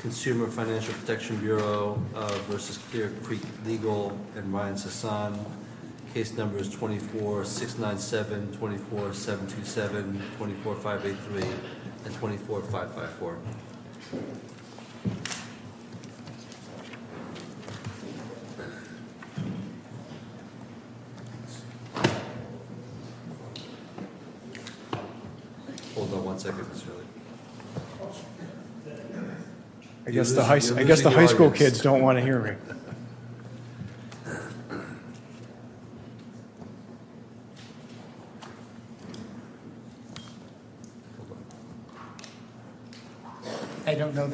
Consumer Financial Protection Bureau v. Clear Creek Legal v. Ryan Sasan. Case numbers 24-697-24727, 24-583 and 24-554. I guess the high school kids don't want to hear me. I don't know.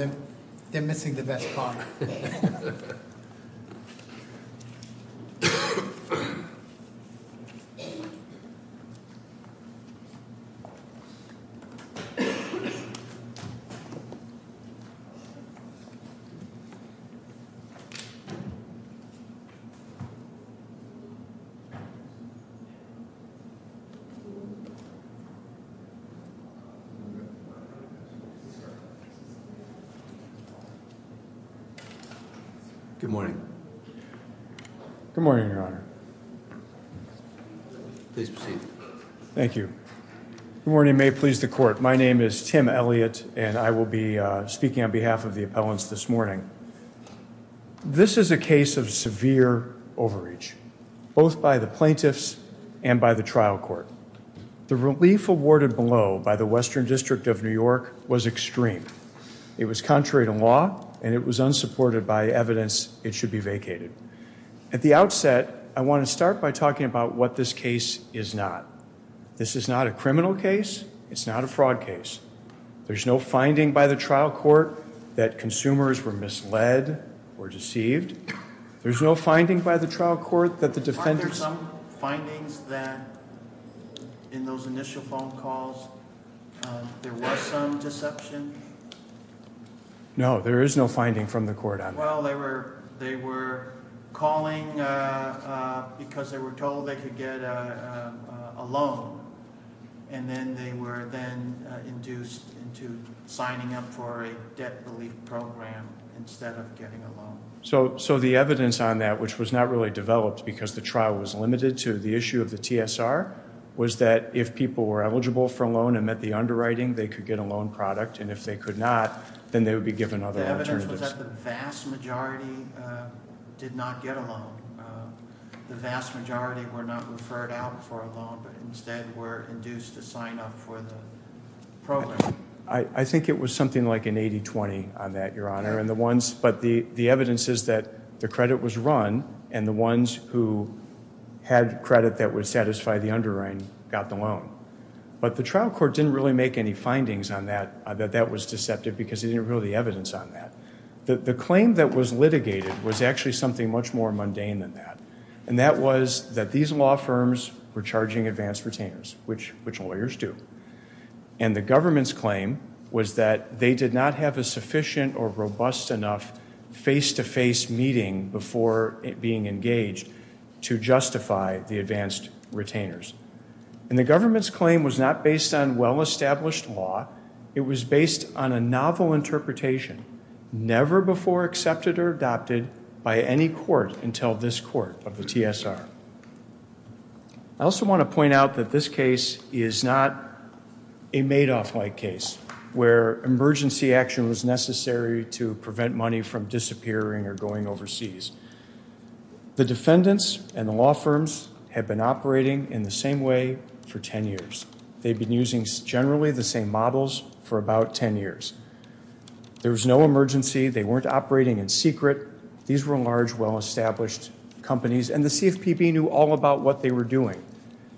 Good morning. Good morning, your honor. Please proceed. Thank you. Good morning. May it please the court. My name is Tim Elliott, and I will be speaking on behalf of the appellants this morning. This is a case of severe overreach, both by the plaintiffs and by the trial court. The relief awarded below by the Western District of New York was extreme. It was contrary to law, and it was unsupported by evidence it should be vacated. At the outset, I want to start by talking about what this case is not. This is not a criminal case. It's not a fraud case. There's no finding by the trial court that consumers were misled or deceived. There's no finding by the trial court that the defendants... Aren't there some findings that in those initial phone calls there was some deception? No, there is no finding from the court on that. Well, they were calling because they were told they could get a loan, and then they were then induced into signing up for a debt relief program instead of getting a loan. So the evidence on that, which was not really developed because the trial was limited to the issue of the TSR, was that if people were eligible for a loan and met the underwriting, they could get a loan product, and if they could not, then they would be given other alternatives. So it was that the vast majority did not get a loan. The vast majority were not referred out for a loan, but instead were induced to sign up for the program. I think it was something like an 80-20 on that, Your Honor, but the evidence is that the credit was run, and the ones who had credit that would satisfy the underwriting got the loan. But the trial court didn't really make any findings on that, that that was deceptive, because they didn't really have the evidence on that. The claim that was litigated was actually something much more mundane than that, and that was that these law firms were charging advanced retainers, which lawyers do. And the government's claim was that they did not have a sufficient or robust enough face-to-face meeting before being engaged to justify the advanced retainers. And the government's claim was not based on well-established law. It was based on a novel interpretation, never before accepted or adopted by any court until this court of the TSR. I also want to point out that this case is not a Madoff-like case, where emergency action was necessary to prevent money from disappearing or going overseas. The defendants and the law firms have been operating in the same way for 10 years. They've been using generally the same models for about 10 years. There was no emergency. They weren't operating in secret. These were large, well-established companies, and the CFPB knew all about what they were doing.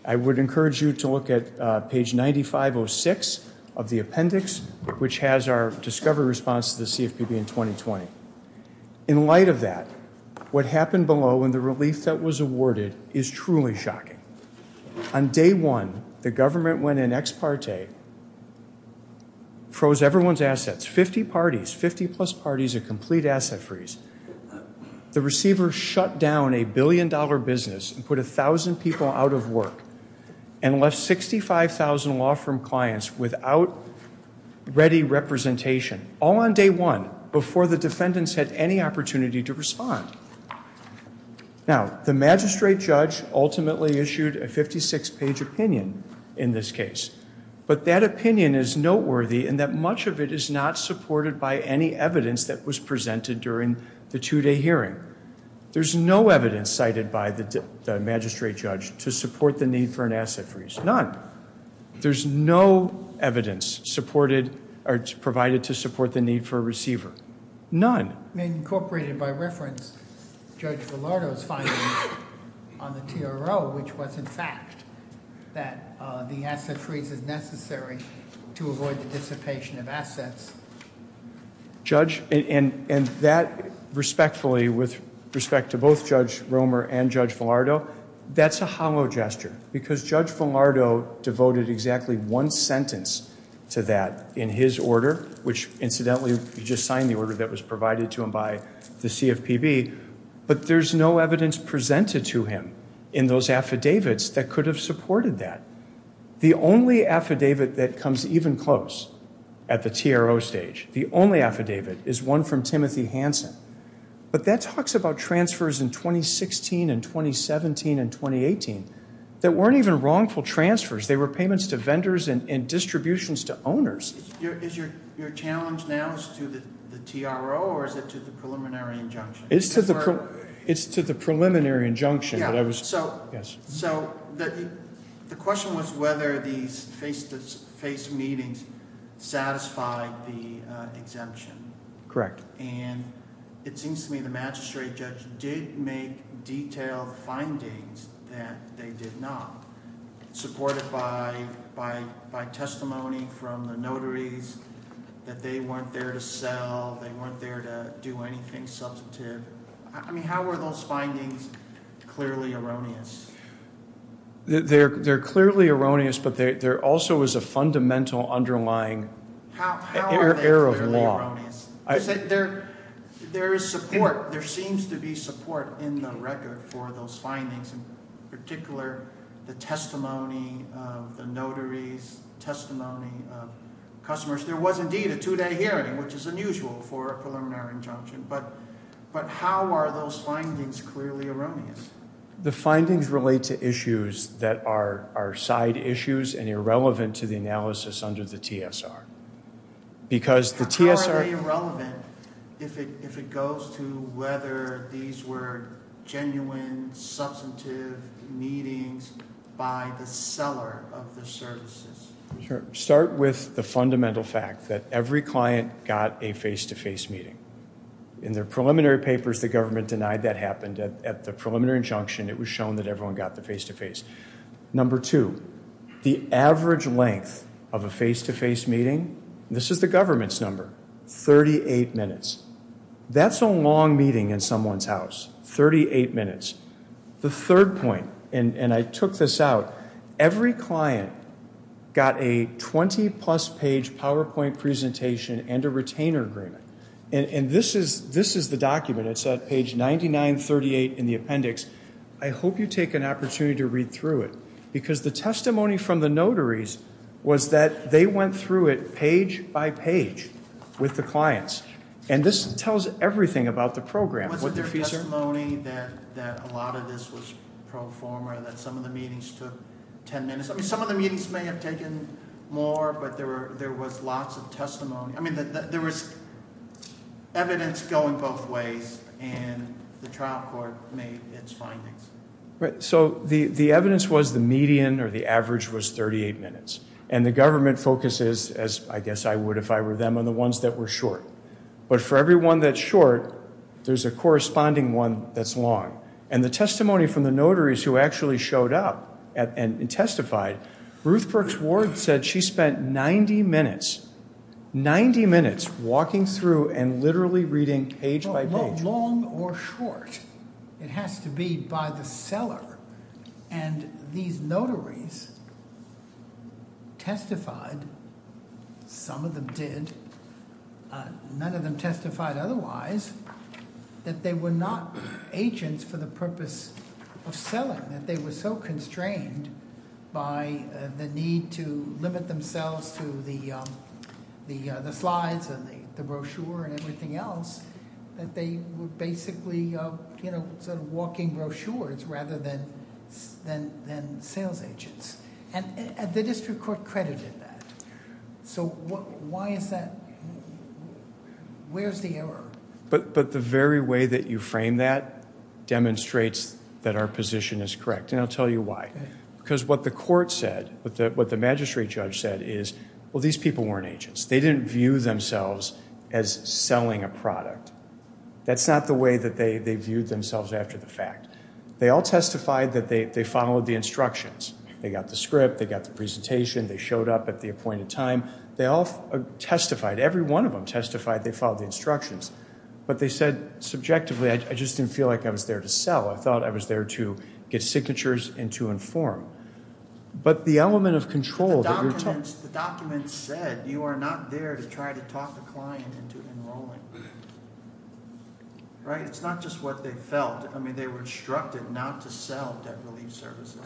I would encourage you to look at page 9506 of the appendix, which has our discovery response to the CFPB in 2020. In light of that, what happened below and the relief that was awarded is truly shocking. On day one, the government went in ex parte, froze everyone's assets, 50 parties, 50-plus parties, a complete asset freeze. The receiver shut down a billion-dollar business and put 1,000 people out of work and left 65,000 law firm clients without ready representation. All on day one, before the defendants had any opportunity to respond. Now, the magistrate judge ultimately issued a 56-page opinion in this case. But that opinion is noteworthy in that much of it is not supported by any evidence that was presented during the two-day hearing. There's no evidence cited by the magistrate judge to support the need for an asset freeze. None. There's no evidence provided to support the need for a receiver. Incorporated by reference, Judge Villardo's finding on the TRO, which was in fact that the asset freeze is necessary to avoid the dissipation of assets. And that, respectfully, with respect to both Judge Romer and Judge Villardo, that's a hollow gesture. Because Judge Villardo devoted exactly one sentence to that in his order. Which, incidentally, he just signed the order that was provided to him by the CFPB. But there's no evidence presented to him in those affidavits that could have supported that. The only affidavit that comes even close at the TRO stage, the only affidavit, is one from Timothy Hansen. But that talks about transfers in 2016 and 2017 and 2018 that weren't even wrongful transfers. They were payments to vendors and distributions to owners. Is your challenge now to the TRO or is it to the preliminary injunction? It's to the preliminary injunction. Yes. So the question was whether these face-to-face meetings satisfied the exemption. And it seems to me the magistrate judge did make detailed findings that they did not. Supported by testimony from the notaries that they weren't there to sell. They weren't there to do anything substantive. I mean, how are those findings clearly erroneous? They're clearly erroneous, but there also is a fundamental underlying error of law. There is support. There seems to be support in the record for those findings. In particular, the testimony of the notaries, testimony of customers. There was indeed a two-day hearing, which is unusual for a preliminary injunction. But how are those findings clearly erroneous? The findings relate to issues that are side issues and irrelevant to the analysis under the TSR. How are they irrelevant if it goes to whether these were genuine, substantive meetings by the seller of the services? Sure. Start with the fundamental fact that every client got a face-to-face meeting. In their preliminary papers, the government denied that happened. At the preliminary injunction, it was shown that everyone got the face-to-face. Number two, the average length of a face-to-face meeting, this is the government's number, 38 minutes. That's a long meeting in someone's house, 38 minutes. The third point, and I took this out, every client got a 20-plus page PowerPoint presentation and a retainer agreement. And this is the document. It's at page 9938 in the appendix. I hope you take an opportunity to read through it, because the testimony from the notaries was that they went through it page by page with the clients. And this tells everything about the program. Wasn't there testimony that a lot of this was pro forma, that some of the meetings took 10 minutes? I mean, some of the meetings may have taken more, but there was lots of testimony. I mean, there was evidence going both ways, and the trial court made its findings. So the evidence was the median or the average was 38 minutes. And the government focuses, as I guess I would if I were them, on the ones that were short. But for every one that's short, there's a corresponding one that's long. And the testimony from the notaries who actually showed up and testified, Ruth Brooks Ward said she spent 90 minutes, 90 minutes walking through and literally reading page by page. Long or short, it has to be by the seller. And these notaries testified, some of them did, none of them testified otherwise, that they were not agents for the purpose of selling, that they were so constrained by the need to limit themselves to the slides and the brochure and everything else that they were basically walking brochures rather than sales agents. And the district court credited that. So why is that? Where's the error? But the very way that you frame that demonstrates that our position is correct, and I'll tell you why. Because what the court said, what the magistrate judge said is, well, these people weren't agents. They didn't view themselves as selling a product. That's not the way that they viewed themselves after the fact. They all testified that they followed the instructions. They got the script. They got the presentation. They showed up at the appointed time. They all testified. Every one of them testified they followed the instructions. But they said subjectively, I just didn't feel like I was there to sell. I thought I was there to get signatures and to inform. But the element of control. The document said you are not there to try to talk the client into enrolling. Right? It's not just what they felt. I mean, they were instructed not to sell debt relief services.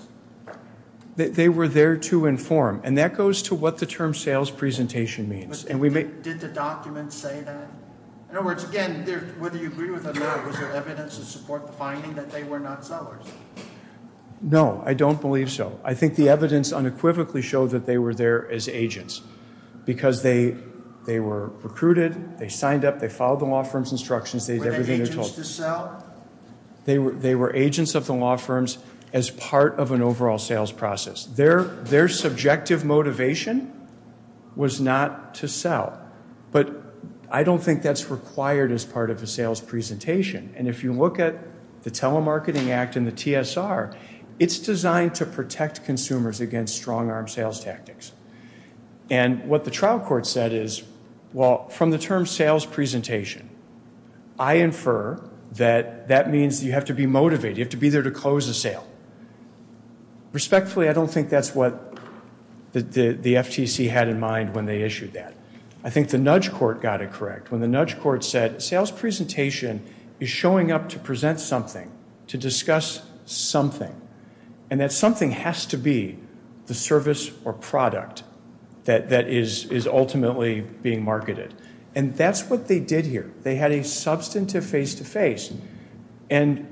They were there to inform. And that goes to what the term sales presentation means. Did the document say that? In other words, again, whether you agree with it or not, was there evidence to support the finding that they were not sellers? No, I don't believe so. I think the evidence unequivocally showed that they were there as agents. Because they were recruited. They signed up. They followed the law firm's instructions. Were they agents to sell? They were agents of the law firms as part of an overall sales process. Their subjective motivation was not to sell. But I don't think that's required as part of a sales presentation. And if you look at the Telemarketing Act and the TSR, it's designed to protect consumers against strong-arm sales tactics. And what the trial court said is, well, from the term sales presentation, I infer that that means you have to be motivated. You have to be there to close the sale. Respectfully, I don't think that's what the FTC had in mind when they issued that. I think the nudge court got it correct. When the nudge court said sales presentation is showing up to present something, to discuss something, and that something has to be the service or product that is ultimately being marketed. And that's what they did here. They had a substantive face-to-face. And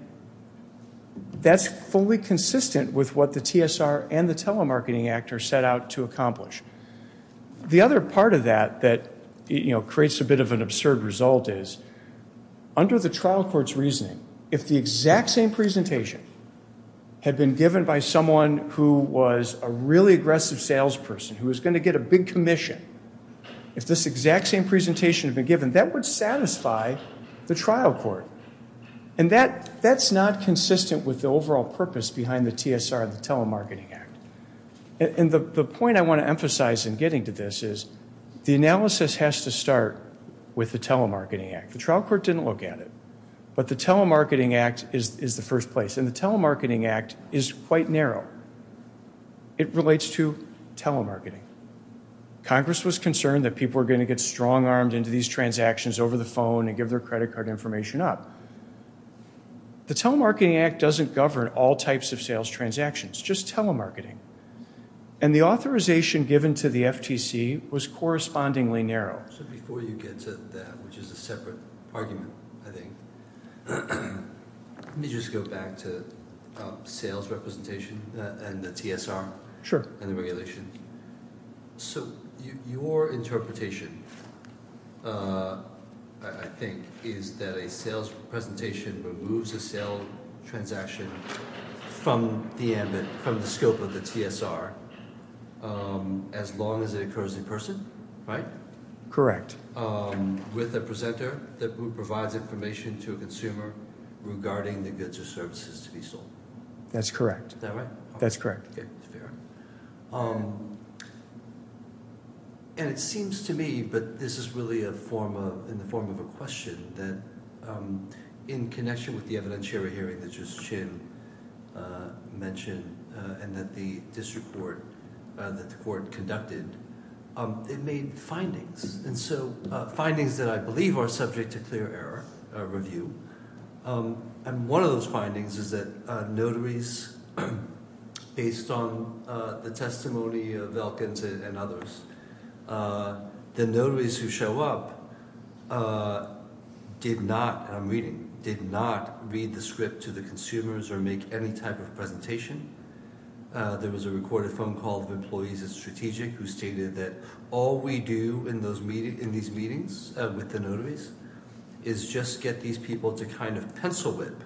that's fully consistent with what the TSR and the Telemarketing Act are set out to accomplish. The other part of that that creates a bit of an absurd result is, under the trial court's reasoning, if the exact same presentation had been given by someone who was a really aggressive salesperson, who was going to get a big commission, if this exact same presentation had been given, that would satisfy the trial court. And that's not consistent with the overall purpose behind the TSR and the Telemarketing Act. And the point I want to emphasize in getting to this is, the analysis has to start with the Telemarketing Act. The trial court didn't look at it. But the Telemarketing Act is the first place. And the Telemarketing Act is quite narrow. It relates to telemarketing. Congress was concerned that people were going to get strong-armed into these transactions over the phone and give their credit card information up. The Telemarketing Act doesn't govern all types of sales transactions, just telemarketing. And the authorization given to the FTC was correspondingly narrow. So before you get to that, which is a separate argument, I think, let me just go back to sales representation and the TSR and the regulation. So your interpretation, I think, is that a sales presentation removes a sales transaction from the scope of the TSR as long as it occurs in person, right? Correct. With a presenter that provides information to a consumer regarding the goods or services to be sold. That's correct. Is that right? That's correct. Okay, that's fair. And it seems to me, but this is really in the form of a question, that in connection with the evidentiary hearing that Justice Chin mentioned and that the district court – that the court conducted, it made findings. And so findings that I believe are subject to clear error review. And one of those findings is that notaries, based on the testimony of Elkins and others, the notaries who show up did not – and I'm reading – did not read the script to the consumers or make any type of presentation. There was a recorded phone call of employees at Strategic who stated that all we do in these meetings with the notaries is just get these people to kind of pencil whip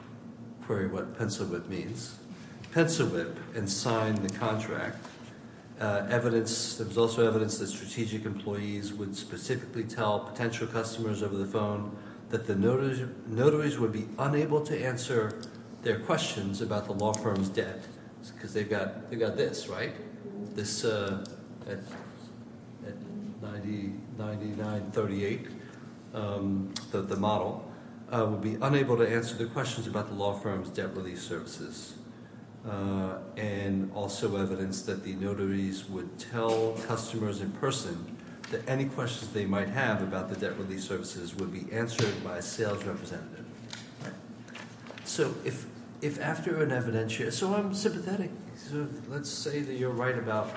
– query what pencil whip means – pencil whip and sign the contract. Evidence – there was also evidence that Strategic employees would specifically tell potential customers over the phone that the notaries would be unable to answer their questions about the law firm's debt because they've got this, right? This – at 9938, the model, would be unable to answer their questions about the law firm's debt relief services. And also evidence that the notaries would tell customers in person that any questions they might have about the debt relief services would be answered by a sales representative. So if after an evidentiary – so I'm sympathetic. Let's say that you're right about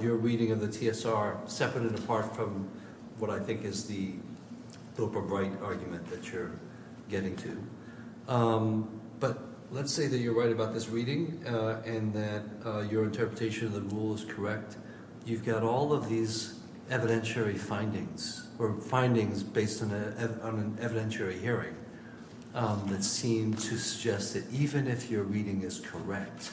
your reading of the TSR separate and apart from what I think is the Bill Burbright argument that you're getting to. But let's say that you're right about this reading and that your interpretation of the rule is correct. You've got all of these evidentiary findings or findings based on an evidentiary hearing that seem to suggest that even if your reading is correct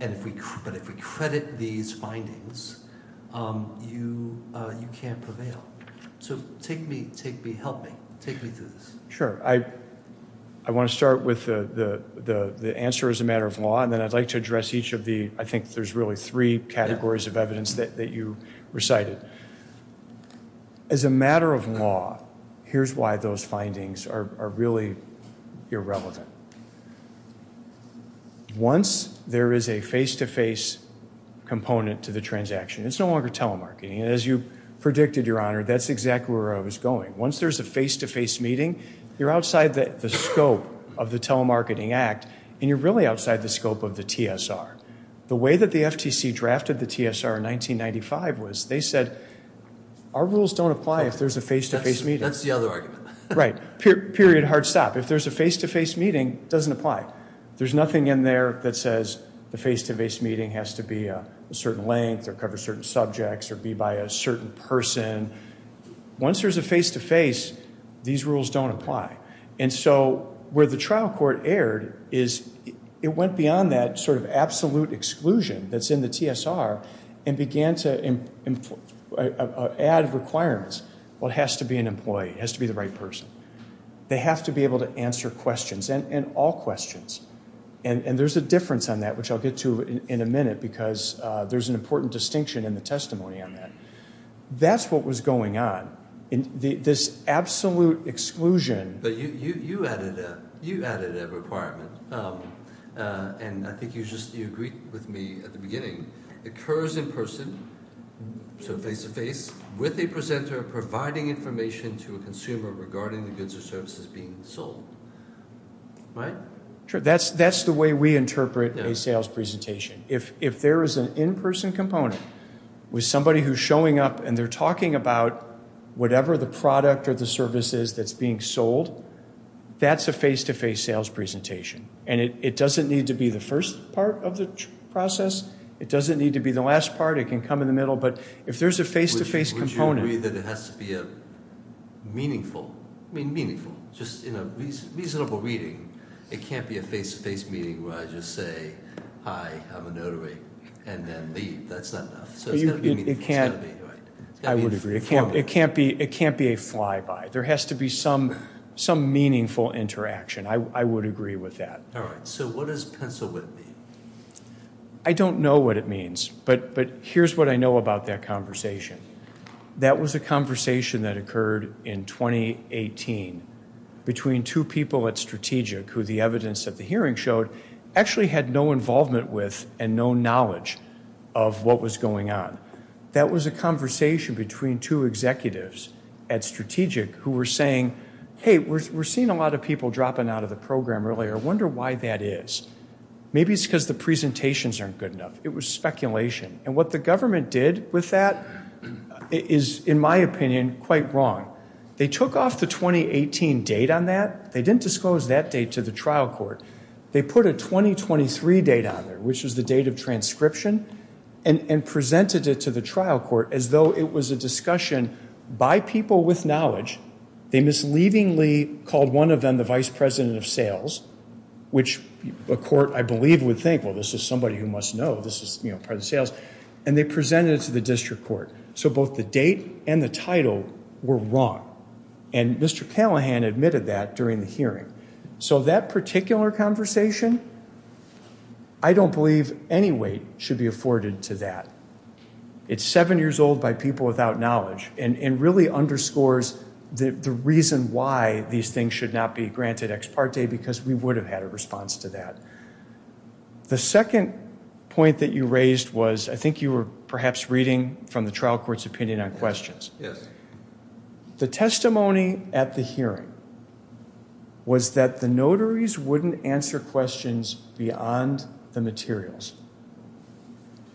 and if we – but if we credit these findings, you can't prevail. So take me – take me – help me. Take me through this. Sure. I want to start with the answer as a matter of law, and then I'd like to address each of the – I think there's really three categories of evidence that you recited. As a matter of law, here's why those findings are really irrelevant. Once there is a face-to-face component to the transaction – it's no longer telemarketing. As you predicted, Your Honor, that's exactly where I was going. Once there's a face-to-face meeting, you're outside the scope of the Telemarketing Act, and you're really outside the scope of the TSR. The way that the FTC drafted the TSR in 1995 was they said our rules don't apply if there's a face-to-face meeting. That's the other argument. Right. Period. Hard stop. If there's a face-to-face meeting, it doesn't apply. There's nothing in there that says the face-to-face meeting has to be a certain length or cover certain subjects or be by a certain person. Once there's a face-to-face, these rules don't apply. And so where the trial court erred is it went beyond that sort of absolute exclusion that's in the TSR and began to add requirements. Well, it has to be an employee. It has to be the right person. They have to be able to answer questions, and all questions. And there's a difference on that, which I'll get to in a minute because there's an important distinction in the testimony on that. That's what was going on. This absolute exclusion. But you added a requirement, and I think you agreed with me at the beginning. It occurs in person, so face-to-face, with a presenter providing information to a consumer regarding the goods or services being sold. Right? Sure. That's the way we interpret a sales presentation. If there is an in-person component with somebody who's showing up and they're talking about whatever the product or the service is that's being sold, that's a face-to-face sales presentation. And it doesn't need to be the first part of the process. It doesn't need to be the last part. It can come in the middle. Would you agree that it has to be meaningful? I mean, meaningful, just in a reasonable reading. It can't be a face-to-face meeting where I just say, hi, I'm a notary, and then leave. That's not enough. So it's got to be meaningful. It's got to be, right? I would agree. It can't be a flyby. There has to be some meaningful interaction. I would agree with that. All right, so what does pencil whip mean? I don't know what it means. But here's what I know about that conversation. That was a conversation that occurred in 2018 between two people at Strategic who the evidence at the hearing showed actually had no involvement with and no knowledge of what was going on. That was a conversation between two executives at Strategic who were saying, hey, we're seeing a lot of people dropping out of the program earlier. I wonder why that is. Maybe it's because the presentations aren't good enough. It was speculation. And what the government did with that is, in my opinion, quite wrong. They took off the 2018 date on that. They didn't disclose that date to the trial court. They put a 2023 date on there, which was the date of transcription, and presented it to the trial court as though it was a discussion by people with knowledge. They misleadingly called one of them the vice president of sales, which a court, I believe, would think, well, this is somebody who must know. This is part of the sales. And they presented it to the district court. So both the date and the title were wrong. And Mr. Callahan admitted that during the hearing. So that particular conversation, I don't believe any weight should be afforded to that. It's seven years old by people without knowledge, and really underscores the reason why these things should not be granted ex parte, because we would have had a response to that. The second point that you raised was, I think you were perhaps reading from the trial court's opinion on questions. Yes. The testimony at the hearing was that the notaries wouldn't answer questions beyond the materials.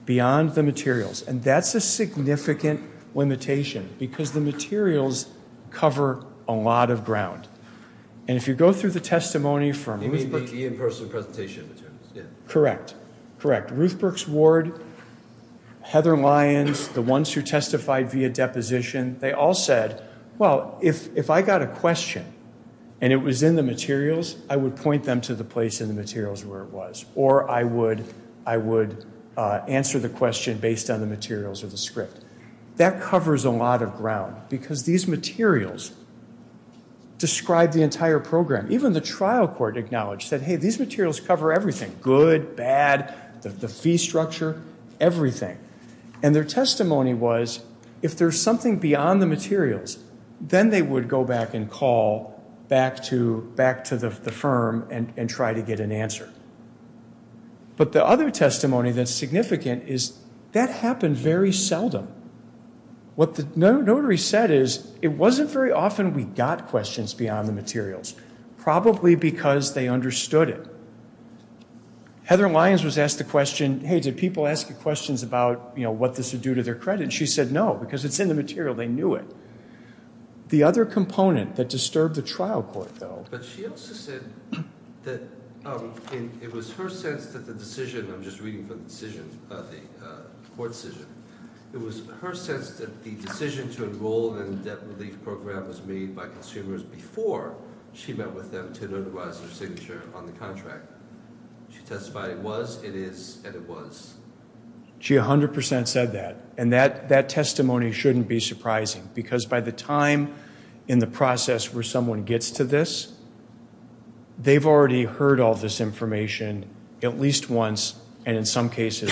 Beyond the materials. And that's a significant limitation, because the materials cover a lot of ground. And if you go through the testimony from Ruthbrook's ward, Heather Lyons, the ones who testified via deposition, they all said, well, if I got a question, and it was in the materials, I would point them to the place in the materials where it was. Or I would answer the question based on the materials or the script. That covers a lot of ground, because these materials describe the entire program. Even the trial court acknowledged that, hey, these materials cover everything. Good, bad, the fee structure, everything. And their testimony was, if there's something beyond the materials, then they would go back and call back to the firm and try to get an answer. But the other testimony that's significant is, that happened very seldom. What the notary said is, it wasn't very often we got questions beyond the materials, probably because they understood it. Heather Lyons was asked the question, hey, did people ask you questions about what this would do to their credit? And she said, no, because it's in the material. They knew it. The other component that disturbed the trial court, though. But she also said that it was her sense that the decision, I'm just reading from the court decision. It was her sense that the decision to enroll in the debt relief program was made by consumers before she met with them to notarize their signature on the contract. She testified it was, it is, and it was. She 100% said that. And that testimony shouldn't be surprising. Because by the time in the process where someone gets to this, they've already heard all this information at least once, and in some cases,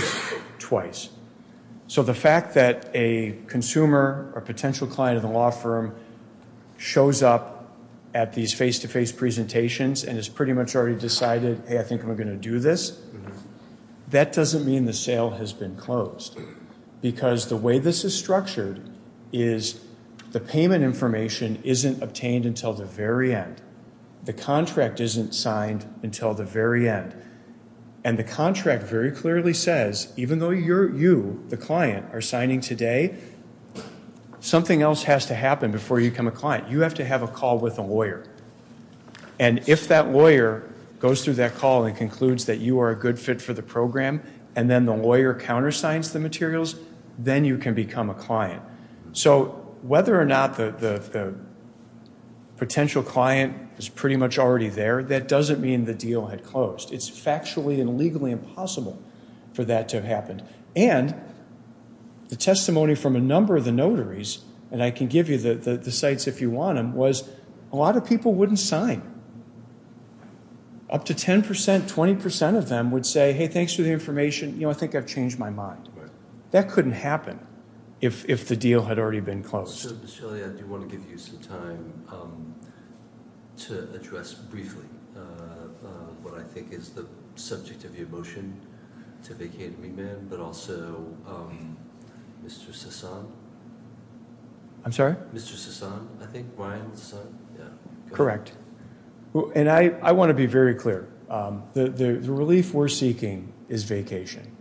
twice. So the fact that a consumer or potential client of the law firm shows up at these face-to-face presentations and has pretty much already decided, hey, I think I'm going to do this. That doesn't mean the sale has been closed. Because the way this is structured is the payment information isn't obtained until the very end. The contract isn't signed until the very end. And the contract very clearly says, even though you, the client, are signing today, something else has to happen before you become a client. You have to have a call with a lawyer. And if that lawyer goes through that call and concludes that you are a good fit for the program, and then the lawyer countersigns the materials, then you can become a client. So whether or not the potential client is pretty much already there, that doesn't mean the deal had closed. It's factually and legally impossible for that to have happened. And the testimony from a number of the notaries, and I can give you the sites if you want them, was a lot of people wouldn't sign. Up to 10%, 20% of them would say, hey, thanks for the information. You know, I think I've changed my mind. That couldn't happen if the deal had already been closed. I do want to give you some time to address briefly what I think is the subject of your motion to vacate a remand, but also Mr. Sasson. I'm sorry, Mr. Sasson, I think Ryan's son. Correct. And I want to be very clear. The relief we're seeking is vacation.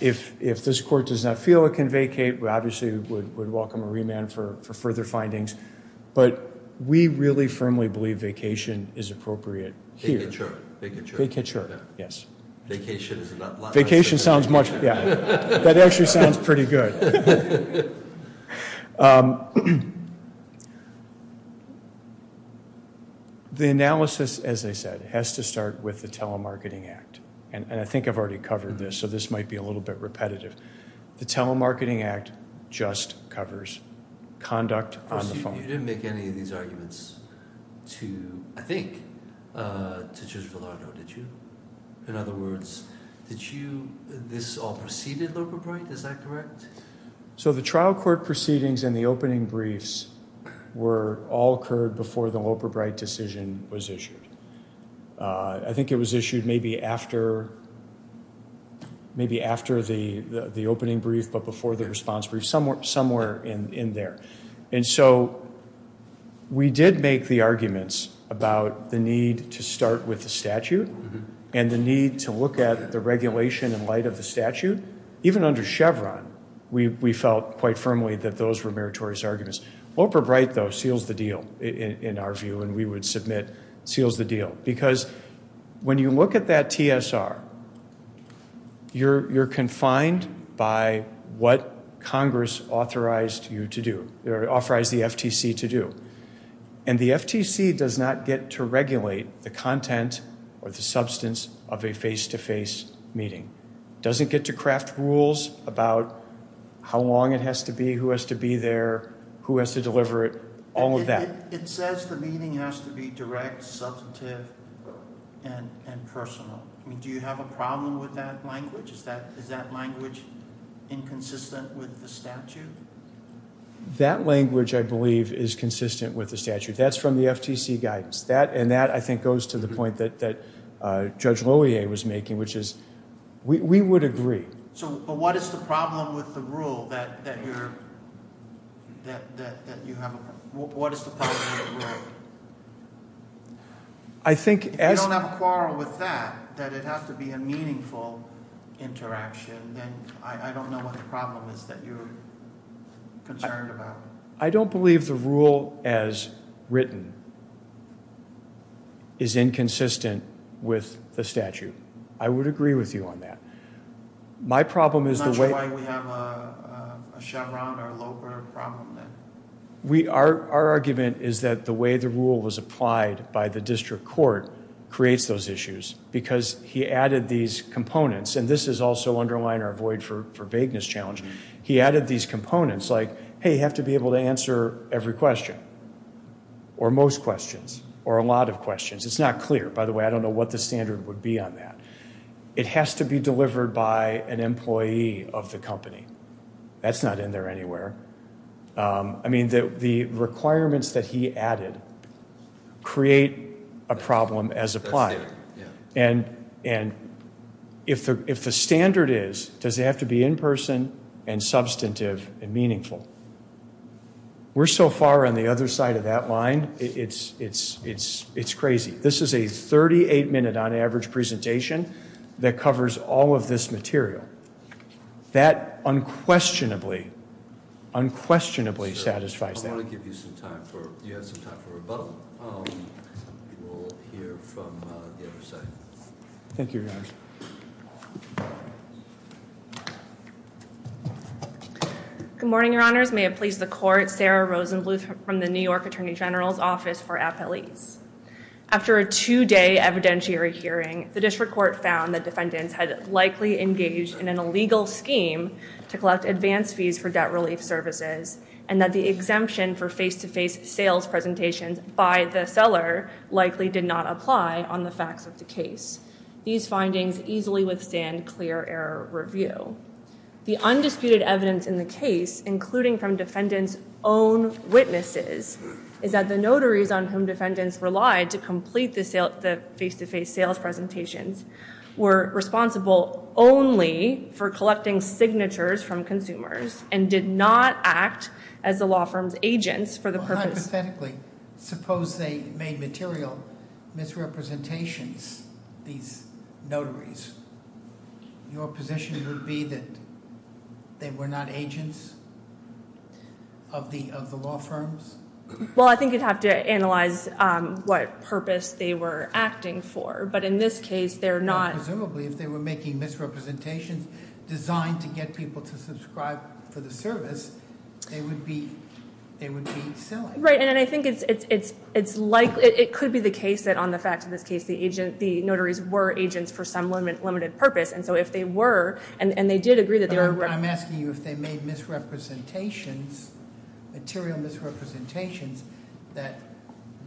If this court does not feel it can vacate, we obviously would welcome a remand for further findings. But we really firmly believe vacation is appropriate here. Vacature, yes. Vacation sounds much better. That actually sounds pretty good. The analysis, as I said, has to start with the Telemarketing Act. And I think I've already covered this, so this might be a little bit repetitive. The Telemarketing Act just covers conduct on the phone. You didn't make any of these arguments to, I think, to Judge Villardo, did you? In other words, did you, this all preceded Locobrite, is that correct? So the trial court proceedings and the opening briefs all occurred before the Locobrite decision was issued. I think it was issued maybe after the opening brief, but before the response brief, somewhere in there. And so we did make the arguments about the need to start with the statute and the need to look at the regulation in light of the statute. And even under Chevron, we felt quite firmly that those were meritorious arguments. Locobrite, though, seals the deal, in our view, and we would submit seals the deal. Because when you look at that TSR, you're confined by what Congress authorized you to do, or authorized the FTC to do. And the FTC does not get to regulate the content or the substance of a face-to-face meeting. It doesn't get to craft rules about how long it has to be, who has to be there, who has to deliver it, all of that. It says the meeting has to be direct, substantive, and personal. Do you have a problem with that language? Is that language inconsistent with the statute? That language, I believe, is consistent with the statute. That's from the FTC guidance. And that, I think, goes to the point that Judge Lohier was making, which is we would agree. But what is the problem with the rule that you're – that you have – what is the problem with the rule? I think as – If you don't have a quarrel with that, that it has to be a meaningful interaction, then I don't know what the problem is that you're concerned about. I don't believe the rule as written is inconsistent with the statute. I would agree with you on that. My problem is the way – I'm not sure why we have a Chevron or Loper problem then. Our argument is that the way the rule was applied by the district court creates those issues because he added these components. And this is also underline or avoid for vagueness challenge. He added these components like, hey, you have to be able to answer every question or most questions or a lot of questions. It's not clear. By the way, I don't know what the standard would be on that. It has to be delivered by an employee of the company. That's not in there anywhere. I mean, the requirements that he added create a problem as applied. And if the standard is, does it have to be in person and substantive and meaningful? We're so far on the other side of that line, it's crazy. This is a 38-minute on average presentation that covers all of this material. That unquestionably, unquestionably satisfies that. I want to give you some time for, do you have some time for rebuttal? We'll hear from the other side. Thank you, Your Honor. Good morning, Your Honors. May it please the court. Sarah Rosenbluth from the New York Attorney General's Office for Appellees. After a two-day evidentiary hearing, the district court found that defendants had likely engaged in an illegal scheme to collect advance fees for debt relief services, and that the exemption for face-to-face sales presentations by the seller likely did not apply on the facts of the case. These findings easily withstand clear error review. The undisputed evidence in the case, including from defendants' own witnesses, is that the notaries on whom defendants relied to complete the face-to-face sales presentations were responsible only for collecting signatures from consumers and did not act as the law firm's agents for the purpose. Hypothetically, suppose they made material misrepresentations, these notaries. Your position would be that they were not agents of the law firms? Well, I think you'd have to analyze what purpose they were acting for. But in this case, they're not- Well, presumably, if they were making misrepresentations designed to get people to subscribe for the service, they would be selling. Right, and I think it could be the case that on the facts of this case, the notaries were agents for some limited purpose. And so if they were, and they did agree that they were- I'm asking you if they made misrepresentations, material misrepresentations, that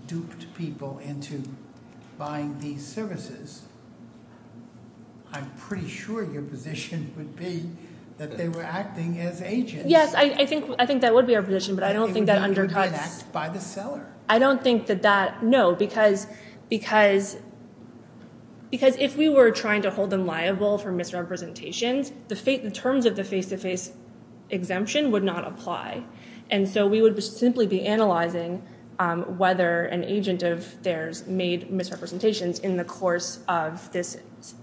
duped people into buying these services, I'm pretty sure your position would be that they were acting as agents. Yes, I think that would be our position, but I don't think that undercuts- They would then act by the seller. I don't think that that, no, because if we were trying to hold them liable for misrepresentations, the terms of the face-to-face exemption would not apply. And so we would simply be analyzing whether an agent of theirs made misrepresentations in the course of this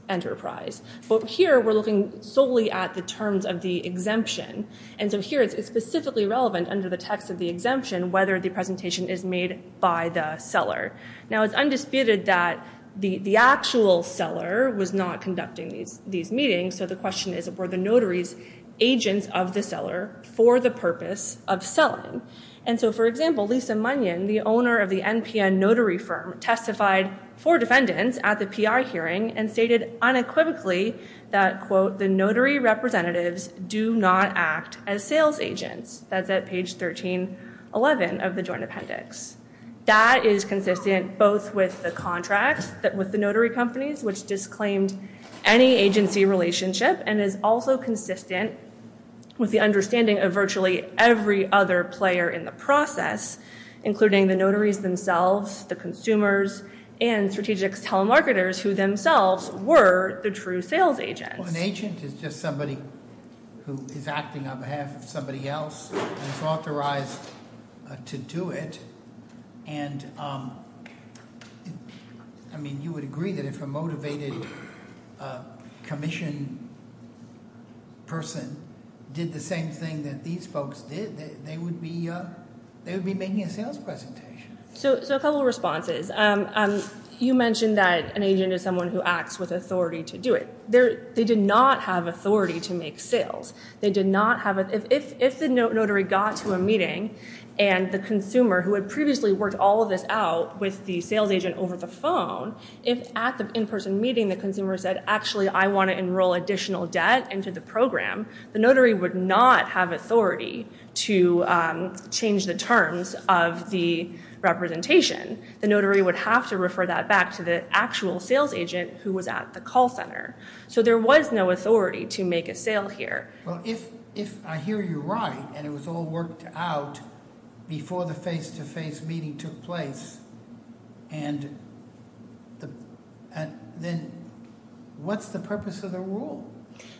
enterprise. But here, we're looking solely at the terms of the exemption. And so here, it's specifically relevant under the text of the exemption whether the presentation is made by the seller. Now, it's undisputed that the actual seller was not conducting these meetings, so the question is, were the notaries agents of the seller for the purpose of selling? And so, for example, Lisa Munyon, the owner of the NPN notary firm, testified for defendants at the PI hearing and stated unequivocally that, quote, the notary representatives do not act as sales agents. That's at page 1311 of the joint appendix. That is consistent both with the contract with the notary companies, which disclaimed any agency relationship, and is also consistent with the understanding of virtually every other player in the process, including the notaries themselves, the consumers, and strategic telemarketers, who themselves were the true sales agents. Well, an agent is just somebody who is acting on behalf of somebody else and is authorized to do it. And, I mean, you would agree that if a motivated commission person did the same thing that these folks did, they would be making a sales presentation. So a couple of responses. You mentioned that an agent is someone who acts with authority to do it. They did not have authority to make sales. They did not have a – if the notary got to a meeting and the consumer, who had previously worked all of this out with the sales agent over the phone, if at the in-person meeting the consumer said, actually, I want to enroll additional debt into the program, the notary would not have authority to change the terms of the representation. The notary would have to refer that back to the actual sales agent who was at the call center. So there was no authority to make a sale here. Well, if I hear you right and it was all worked out before the face-to-face meeting took place, then what's the purpose of the rule?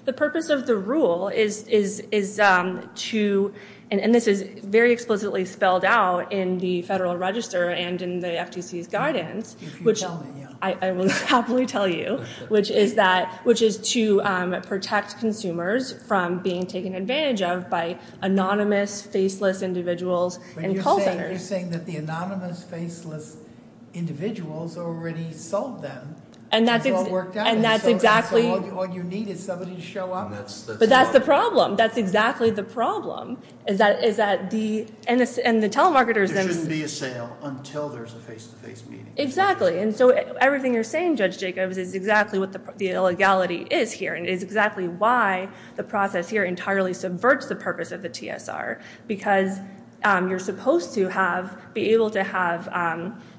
The purpose of the rule is to – and this is very explicitly spelled out in the Federal Register and in the FTC's guidance, which I will happily tell you, which is to protect consumers from being taken advantage of by anonymous, faceless individuals in call centers. But you're saying that the anonymous, faceless individuals already sold them. And that's exactly – So all you need is somebody to show up. But that's the problem. That's exactly the problem, is that the – and the telemarketers – There shouldn't be a sale until there's a face-to-face meeting. Exactly. And so everything you're saying, Judge Jacobs, is exactly what the illegality is here and is exactly why the process here entirely subverts the purpose of the TSR, because you're supposed to be able to have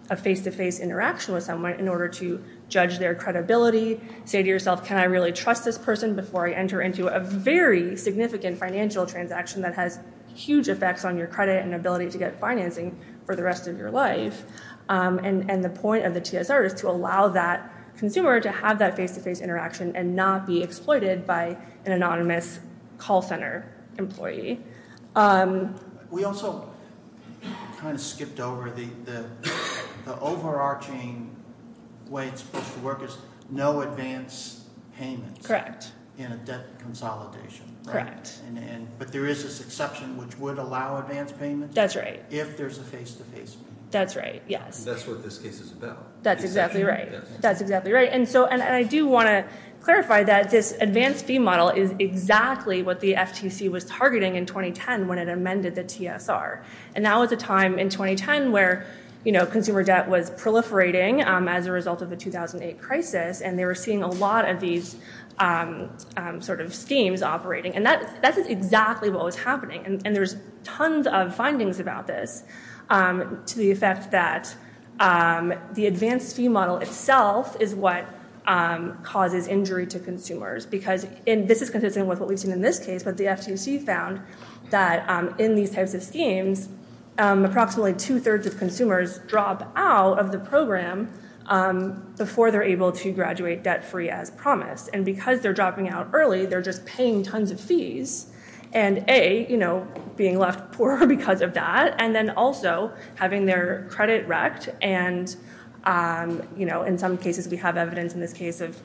a face-to-face interaction with someone in order to judge their credibility, say to yourself, can I really trust this person before I enter into a very significant financial transaction that has huge effects on your credit and ability to get financing for the rest of your life. And the point of the TSR is to allow that consumer to have that face-to-face interaction and not be exploited by an anonymous call center employee. We also kind of skipped over the overarching way it's supposed to work is no advance payments. Correct. In a debt consolidation. Correct. But there is this exception which would allow advance payments. That's right. If there's a face-to-face meeting. That's right, yes. That's what this case is about. That's exactly right. That's exactly right. And I do want to clarify that this advance fee model is exactly what the FTC was targeting in 2010 when it amended the TSR. And that was a time in 2010 where consumer debt was proliferating as a result of the 2008 crisis, and they were seeing a lot of these sort of schemes operating. And that's exactly what was happening. And there's tons of findings about this to the effect that the advance fee model itself is what causes injury to consumers. Because this is consistent with what we've seen in this case, but the FTC found that in these types of schemes, approximately two-thirds of consumers drop out of the program before they're able to graduate debt-free as promised. And because they're dropping out early, they're just paying tons of fees. And, A, you know, being left poor because of that, and then also having their credit wrecked. And, you know, in some cases we have evidence in this case of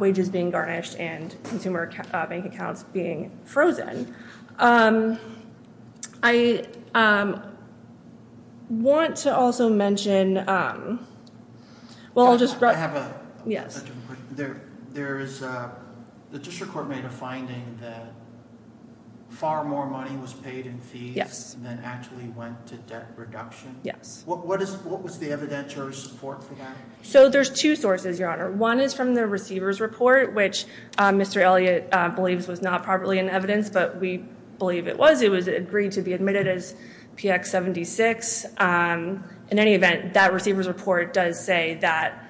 wages being garnished and consumer bank accounts being frozen. I want to also mention – well, I'll just – I have a – Yes. There is – the district court made a finding that far more money was paid in fees than actually went to debt reduction. Yes. What was the evidentiary support for that? So there's two sources, Your Honor. One is from the receiver's report, which Mr. Elliott believes was not properly in evidence, but we believe it was. It was agreed to be admitted as PX-76. In any event, that receiver's report does say that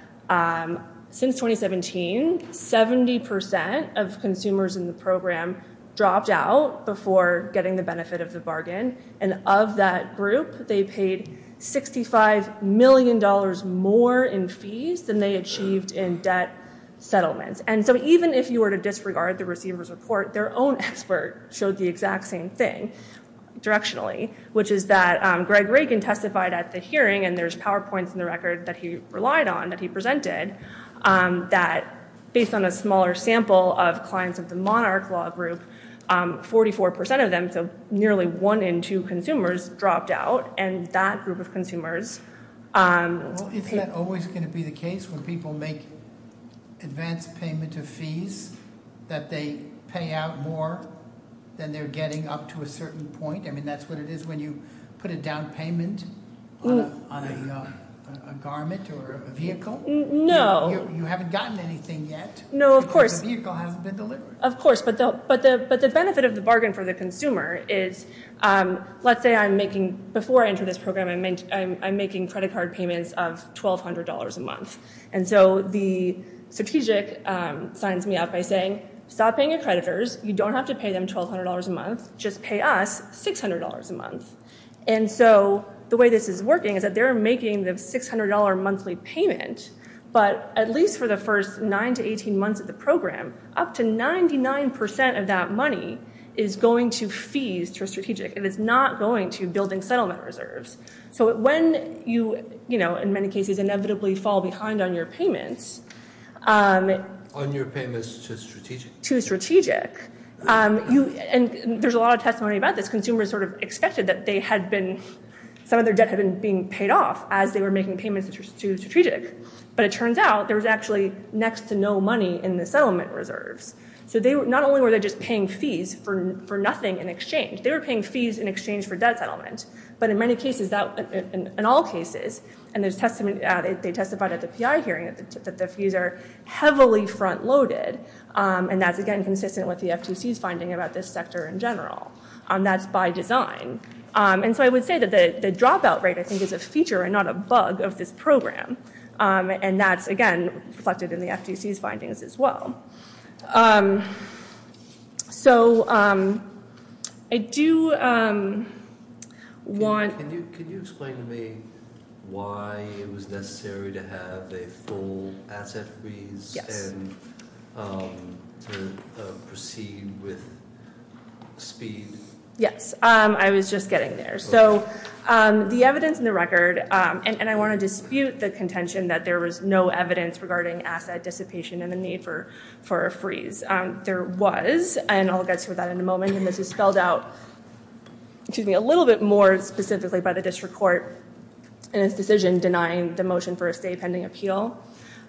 since 2017, 70% of consumers in the program dropped out before getting the benefit of the bargain. And of that group, they paid $65 million more in fees than they achieved in debt settlements. And so even if you were to disregard the receiver's report, their own expert showed the exact same thing directionally, which is that Greg Reagan testified at the hearing, and there's PowerPoints in the record that he relied on that he presented, that based on a smaller sample of clients of the Monarch Law Group, 44% of them, so nearly one in two consumers, dropped out. And that group of consumers paid – Well, isn't that always going to be the case when people make advance payment of fees, that they pay out more than they're getting up to a certain point? I mean, that's what it is when you put a down payment on a garment or a vehicle. No. You haven't gotten anything yet. No, of course. Because the vehicle hasn't been delivered. Of course. But the benefit of the bargain for the consumer is, let's say I'm making – before I enter this program, I'm making credit card payments of $1,200 a month. And so the strategic signs me out by saying, stop paying accreditors. You don't have to pay them $1,200 a month. Just pay us $600 a month. And so the way this is working is that they're making the $600 monthly payment, but at least for the first 9 to 18 months of the program, up to 99% of that money is going to fees through strategic. It is not going to building settlement reserves. So when you, in many cases, inevitably fall behind on your payments – On your payments to strategic. To strategic. And there's a lot of testimony about this. Consumers sort of expected that they had been – some of their debt had been being paid off as they were making payments to strategic. But it turns out there was actually next to no money in the settlement reserves. So not only were they just paying fees for nothing in exchange, they were paying fees in exchange for debt settlement. But in many cases, in all cases, and they testified at the PI hearing that the fees are heavily front-loaded, and that's, again, consistent with the FTC's finding about this sector in general. That's by design. And so I would say that the dropout rate, I think, is a feature and not a bug of this program. And that's, again, reflected in the FTC's findings as well. So I do want – Can you explain to me why it was necessary to have a full asset freeze? Yes. And proceed with speed? Yes. I was just getting there. So the evidence in the record – and I want to dispute the contention that there was no evidence regarding asset dissipation and the need for a freeze. There was, and I'll get to that in a moment, and this is spelled out a little bit more specifically by the district court in its decision denying the motion for a stay pending appeal.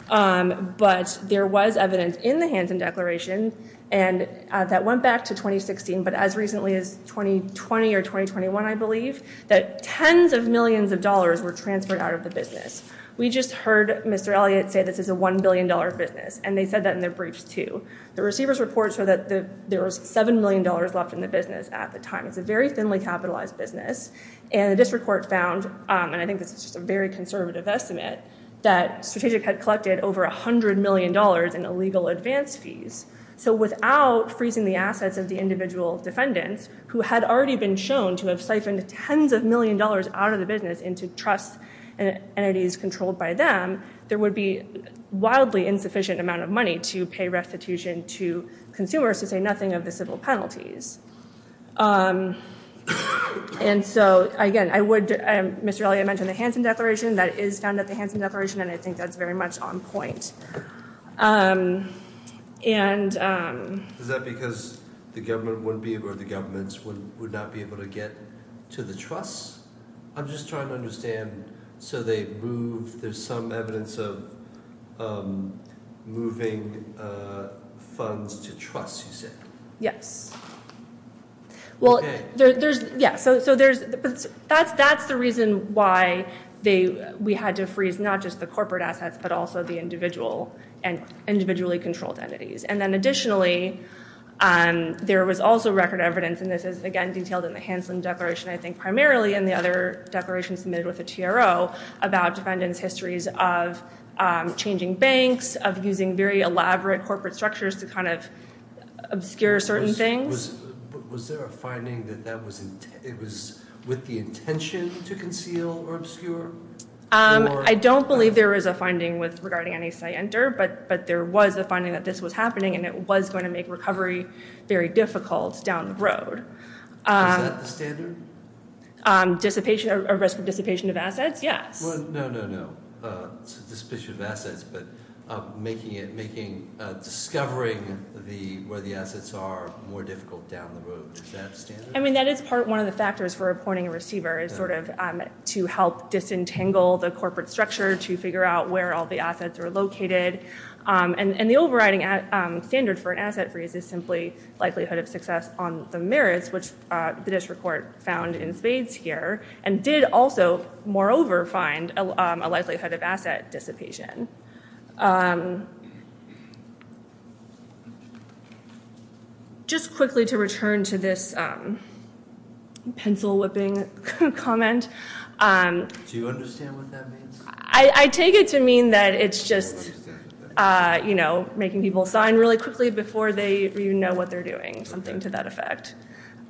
But there was evidence in the Hansen Declaration that went back to 2016, but as recently as 2020 or 2021, I believe, that tens of millions of dollars were transferred out of the business. We just heard Mr. Elliott say this is a $1 billion business, and they said that in their briefs too. The receiver's reports show that there was $7 million left in the business at the time. It's a very thinly capitalized business. And the district court found, and I think this is just a very conservative estimate, that Strategic had collected over $100 million in illegal advance fees. So without freezing the assets of the individual defendants, who had already been shown to have siphoned tens of million dollars out of the business into trusts and entities controlled by them, there would be a wildly insufficient amount of money to pay restitution to consumers to say nothing of the civil penalties. And so, again, I would – Mr. Elliott mentioned the Hansen Declaration. That is found at the Hansen Declaration, and I think that's very much on point. Is that because the government wouldn't be able – or the governments would not be able to get to the trusts? I'm just trying to understand. So they moved – there's some evidence of moving funds to trusts, you said? Yes. Okay. There's – yeah, so there's – that's the reason why we had to freeze not just the corporate assets but also the individually controlled entities. And then additionally, there was also record evidence, and this is, again, detailed in the Hansen Declaration, I think, primarily, and the other declaration submitted with the TRO, about defendants' histories of changing banks, of using very elaborate corporate structures to kind of obscure certain things. Was there a finding that that was – it was with the intention to conceal or obscure? I don't believe there was a finding regarding any scienter, but there was a finding that this was happening and it was going to make recovery very difficult down the road. Is that the standard? Dissipation – or dissipation of assets, yes. Well, no, no, no. Not dissipation of assets, but making – discovering where the assets are more difficult down the road. Is that standard? I mean, that is part – one of the factors for appointing a receiver is sort of to help disentangle the corporate structure to figure out where all the assets are located. And the overriding standard for an asset freeze is simply likelihood of success on the merits, which the district court found in spades here, and did also, moreover, find a likelihood of asset dissipation. Just quickly to return to this pencil-whipping comment. Do you understand what that means? I take it to mean that it's just, you know, making people sign really quickly before you know what they're doing, something to that effect.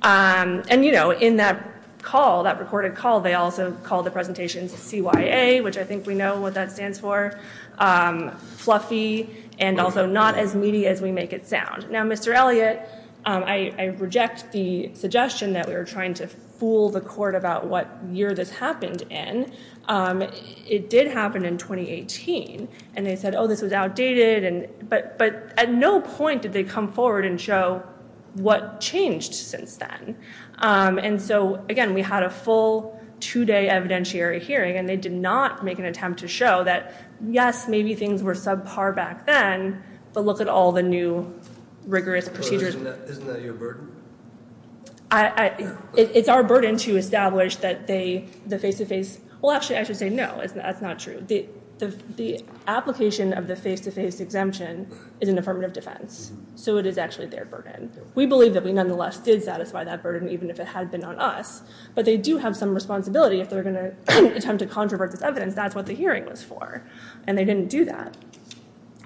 And, you know, in that call, that recorded call, they also called the presentation CYA, which I think we know what that stands for – fluffy and also not as meaty as we make it sound. Now, Mr. Elliott, I reject the suggestion that we were trying to fool the court about what year this happened in. It did happen in 2018, and they said, oh, this was outdated, but at no point did they come forward and show what changed since then. And so, again, we had a full two-day evidentiary hearing, and they did not make an attempt to show that, yes, maybe things were subpar back then, but look at all the new rigorous procedures. Isn't that your burden? It's our burden to establish that the face-to-face – well, actually, I should say no, that's not true. The application of the face-to-face exemption is an affirmative defense, so it is actually their burden. We believe that we nonetheless did satisfy that burden, even if it had been on us, but they do have some responsibility if they're going to attempt to controvert this evidence. That's what the hearing was for, and they didn't do that.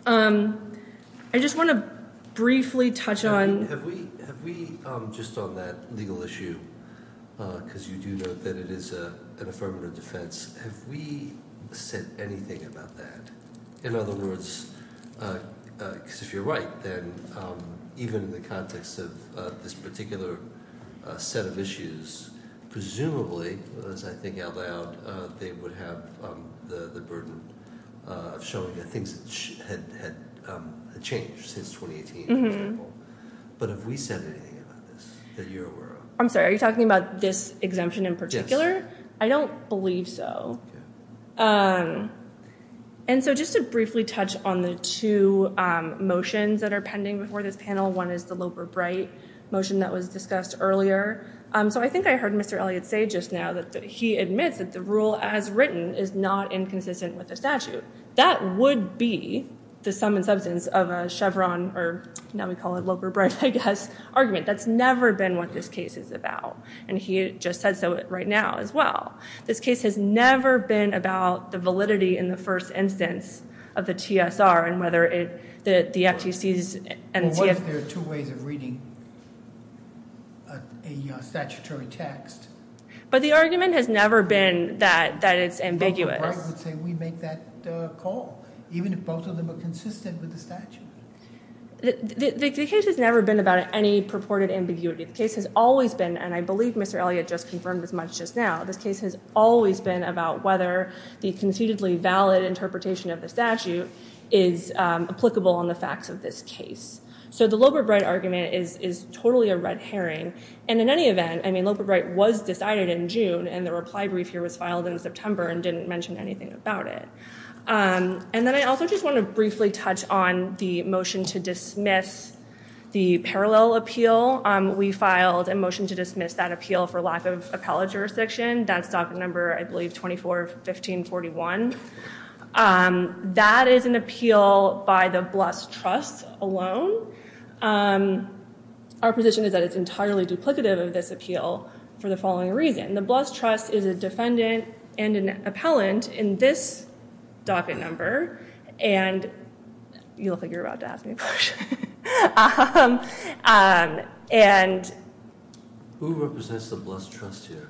I just want to briefly touch on – Have we – just on that legal issue, because you do note that it is an affirmative defense, have we said anything about that? In other words, because if you're right, then even in the context of this particular set of issues, presumably, as I think out loud, they would have the burden of showing that things had changed since 2018. But have we said anything about this that you're aware of? I'm sorry, are you talking about this exemption in particular? I don't believe so. And so just to briefly touch on the two motions that are pending before this panel, one is the Loper-Bright motion that was discussed earlier. So I think I heard Mr. Elliott say just now that he admits that the rule as written is not inconsistent with the statute. That would be the sum and substance of a Chevron, or now we call it Loper-Bright, I guess, argument. That's never been what this case is about, and he just said so right now as well. This case has never been about the validity in the first instance of the TSR and whether the FTCs and the TSAs... Well, what if there are two ways of reading a statutory text? But the argument has never been that it's ambiguous. Loper-Bright would say we make that call, even if both of them are consistent with the statute. The case has never been about any purported ambiguity. The case has always been, and I believe Mr. Elliott just confirmed as much just now, this case has always been about whether the concededly valid interpretation of the statute is applicable on the facts of this case. So the Loper-Bright argument is totally a red herring, and in any event, I mean, Loper-Bright was decided in June, and the reply brief here was filed in September and didn't mention anything about it. And then I also just want to briefly touch on the motion to dismiss the parallel appeal. We filed a motion to dismiss that appeal for lack of appellate jurisdiction. That's docket number, I believe, 241541. That is an appeal by the Bluss Trust alone. Our position is that it's entirely duplicative of this appeal for the following reason. The Bluss Trust is a defendant and an appellant in this docket number, and you look like you're about to ask me a question. And... Who represents the Bluss Trust here?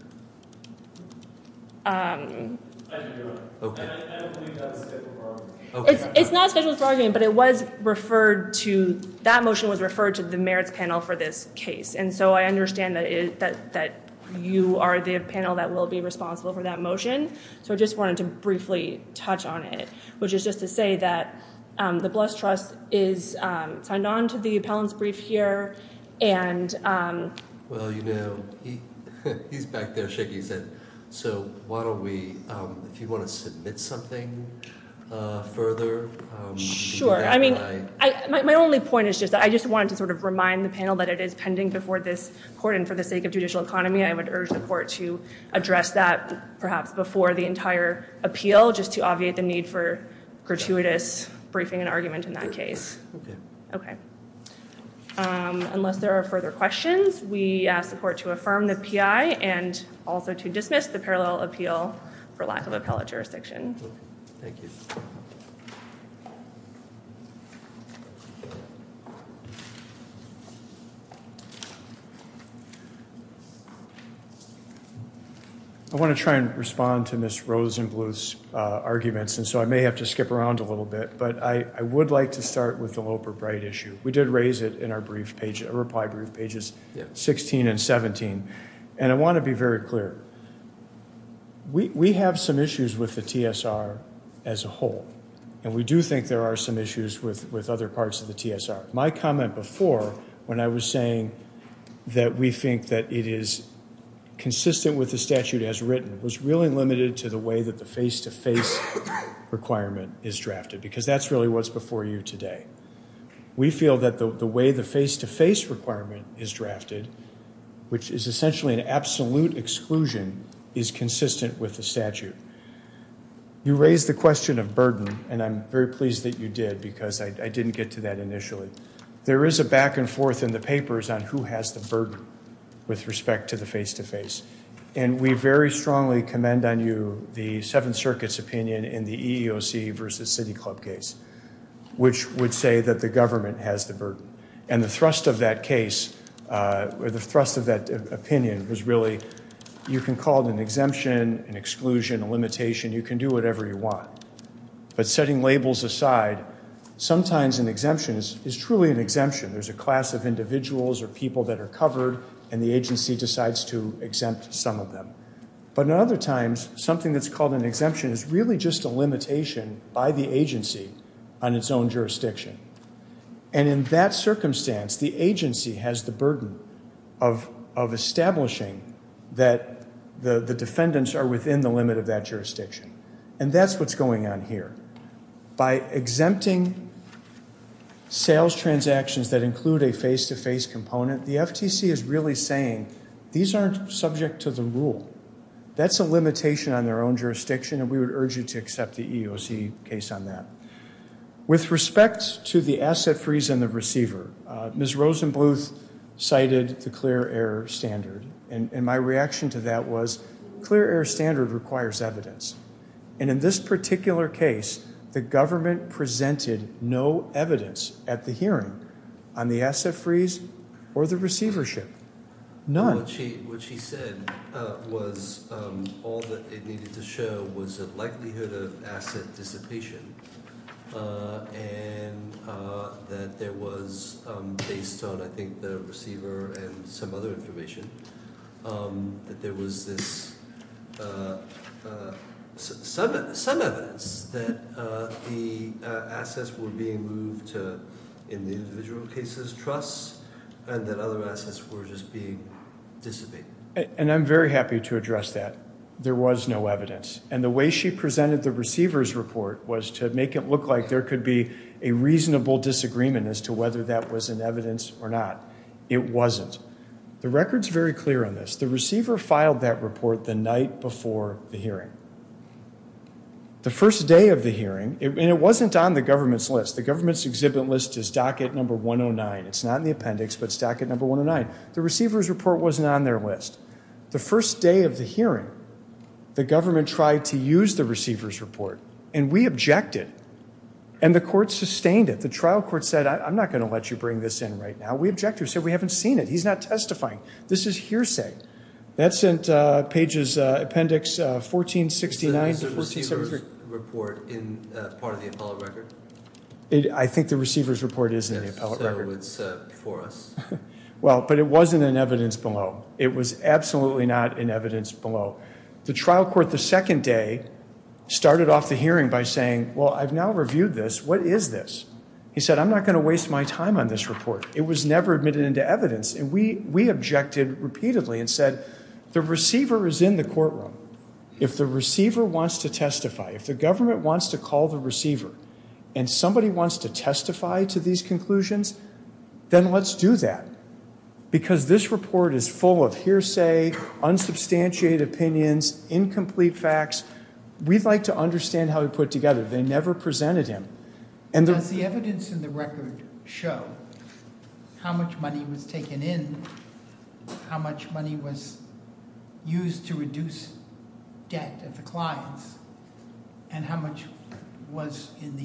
I do. Okay. And I don't think that's a special argument. It's not a special argument, but it was referred to, that motion was referred to the merits panel for this case. And so I understand that you are the panel that will be responsible for that motion. So I just wanted to briefly touch on it, which is just to say that the Bluss Trust is signed on to the appellant's brief here, and... Well, you know, he's back there shaking his head. So why don't we, if you want to submit something further... I mean, my only point is just that I just wanted to sort of remind the panel that it is pending before this court, and for the sake of judicial economy, I would urge the court to address that perhaps before the entire appeal, just to obviate the need for gratuitous briefing and argument in that case. Okay. Okay. Unless there are further questions, we ask the court to affirm the PI and also to dismiss the parallel appeal for lack of appellate jurisdiction. Thank you. Thank you. I want to try and respond to Ms. Rosenbluth's arguments, and so I may have to skip around a little bit, but I would like to start with the Loper-Bright issue. We did raise it in our reply brief pages 16 and 17, and I want to be very clear. We have some issues with the TSR as a whole, and we do think there are some issues with other parts of the TSR. My comment before, when I was saying that we think that it is consistent with the statute as written, was really limited to the way that the face-to-face requirement is drafted, because that's really what's before you today. We feel that the way the face-to-face requirement is drafted, which is essentially an absolute exclusion, is consistent with the statute. You raised the question of burden, and I'm very pleased that you did because I didn't get to that initially. There is a back-and-forth in the papers on who has the burden with respect to the face-to-face, and we very strongly commend on you the Seventh Circuit's opinion in the EEOC versus City Club case, which would say that the government has the burden, and the thrust of that case, or the thrust of that opinion, was really you can call it an exemption, an exclusion, a limitation. You can do whatever you want. But setting labels aside, sometimes an exemption is truly an exemption. There's a class of individuals or people that are covered, and the agency decides to exempt some of them. But in other times, something that's called an exemption is really just a limitation by the agency on its own jurisdiction. And in that circumstance, the agency has the burden of establishing that the defendants are within the limit of that jurisdiction, and that's what's going on here. By exempting sales transactions that include a face-to-face component, the FTC is really saying these aren't subject to the rule. That's a limitation on their own jurisdiction, and we would urge you to accept the EEOC case on that. With respect to the asset freeze and the receiver, Ms. Rosenbluth cited the clear error standard, and my reaction to that was clear error standard requires evidence. And in this particular case, the government presented no evidence at the hearing on the asset freeze or the receivership, none. What she said was all that it needed to show was the likelihood of asset dissipation and that there was, based on, I think, the receiver and some other information, that there was some evidence that the assets were being moved to, in the individual cases, trusts, and that other assets were just being dissipated. And I'm very happy to address that. There was no evidence. And the way she presented the receiver's report was to make it look like there could be a reasonable disagreement as to whether that was an evidence or not. It wasn't. The record's very clear on this. The receiver filed that report the night before the hearing. The first day of the hearing, and it wasn't on the government's list. The government's exhibit list is docket number 109. It's not in the appendix, but it's docket number 109. The receiver's report wasn't on their list. The first day of the hearing, the government tried to use the receiver's report, and we objected, and the court sustained it. The trial court said, I'm not going to let you bring this in right now. We objected. We said, we haven't seen it. He's not testifying. This is hearsay. That's in pages appendix 1469 to 1473. Is the receiver's report in part of the appellate record? I think the receiver's report is in the appellate record. So it's before us. Well, but it wasn't in evidence below. It was absolutely not in evidence below. The trial court the second day started off the hearing by saying, Well, I've now reviewed this. What is this? He said, I'm not going to waste my time on this report. It was never admitted into evidence, and we objected repeatedly and said, The receiver is in the courtroom. If the receiver wants to testify, if the government wants to call the receiver, and somebody wants to testify to these conclusions, then let's do that. Because this report is full of hearsay, unsubstantiated opinions, incomplete facts. We'd like to understand how he put it together. They never presented him. Does the evidence in the record show how much money was taken in, how much money was used to reduce debt at the clients, and how much was in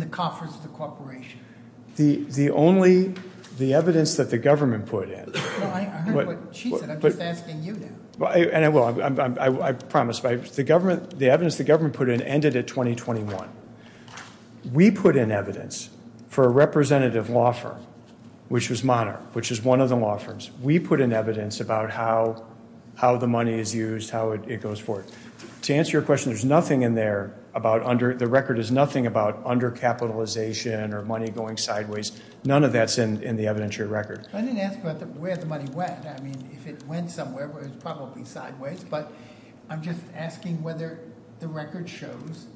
the coffers of the corporation? The evidence that the government put in. I heard what she said. I'm just asking you now. And I will. I promise. The evidence the government put in ended at 2021. We put in evidence for a representative law firm, which was Monarch, which is one of the law firms. We put in evidence about how the money is used, how it goes forward. To answer your question, there's nothing in there about under, the record is nothing about undercapitalization or money going sideways. None of that's in the evidentiary record. I didn't ask about where the money went. I mean, if it went somewhere, it was probably sideways. But I'm just asking whether the record shows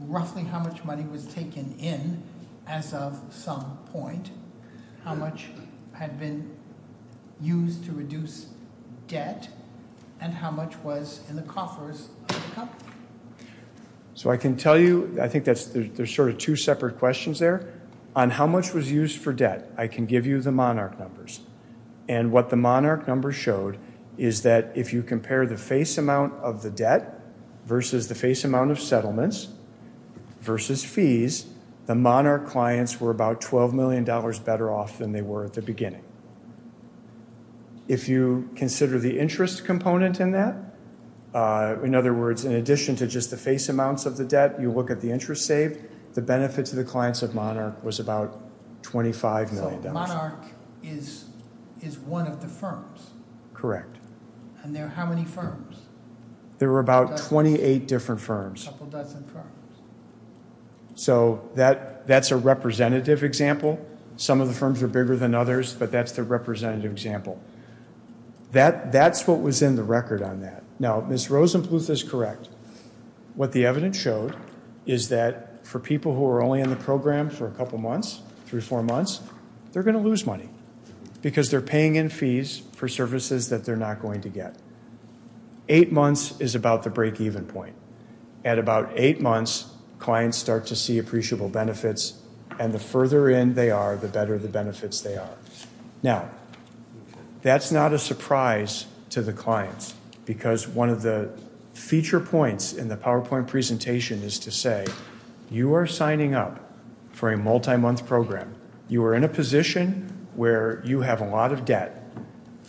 roughly how much money was taken in as of some point, how much had been used to reduce debt, and how much was in the coffers of the company. So I can tell you, I think that's, there's sort of two separate questions there on how much was used for debt. I can give you the Monarch numbers. And what the Monarch number showed is that if you compare the face amount of the debt versus the face amount of settlements versus fees, the Monarch clients were about $12 million better off than they were at the interest component in that. In other words, in addition to just the face amounts of the debt, you look at the interest saved, the benefits to the clients of Monarch was about $25 million. So Monarch is one of the firms? Correct. And there are how many firms? There were about 28 different firms. A couple dozen firms. So that's a representative example. Some of the firms are bigger than others, but that's the representative example. That's what was in the record on that. Now, Ms. Rosenbluth is correct. What the evidence showed is that for people who are only in the program for a couple months, three, four months, they're going to lose money because they're paying in fees for services that they're not going to get. Eight months is about the breakeven point. At about eight months, clients start to see appreciable benefits. And the further in they are, the better the benefits they are. Now, that's not a surprise to the clients. Because one of the feature points in the PowerPoint presentation is to say, you are signing up for a multi-month program. You are in a position where you have a lot of debt.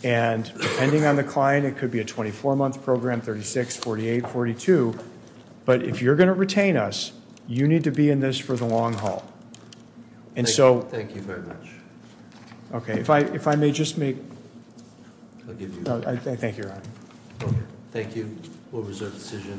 And depending on the client, it could be a 24-month program, 36, 48, 42. But if you're going to retain us, you need to be in this for the long haul. Thank you very much. Okay. If I may just make. I'll give you that. Thank you, Your Honor. Thank you. We'll reserve the decision.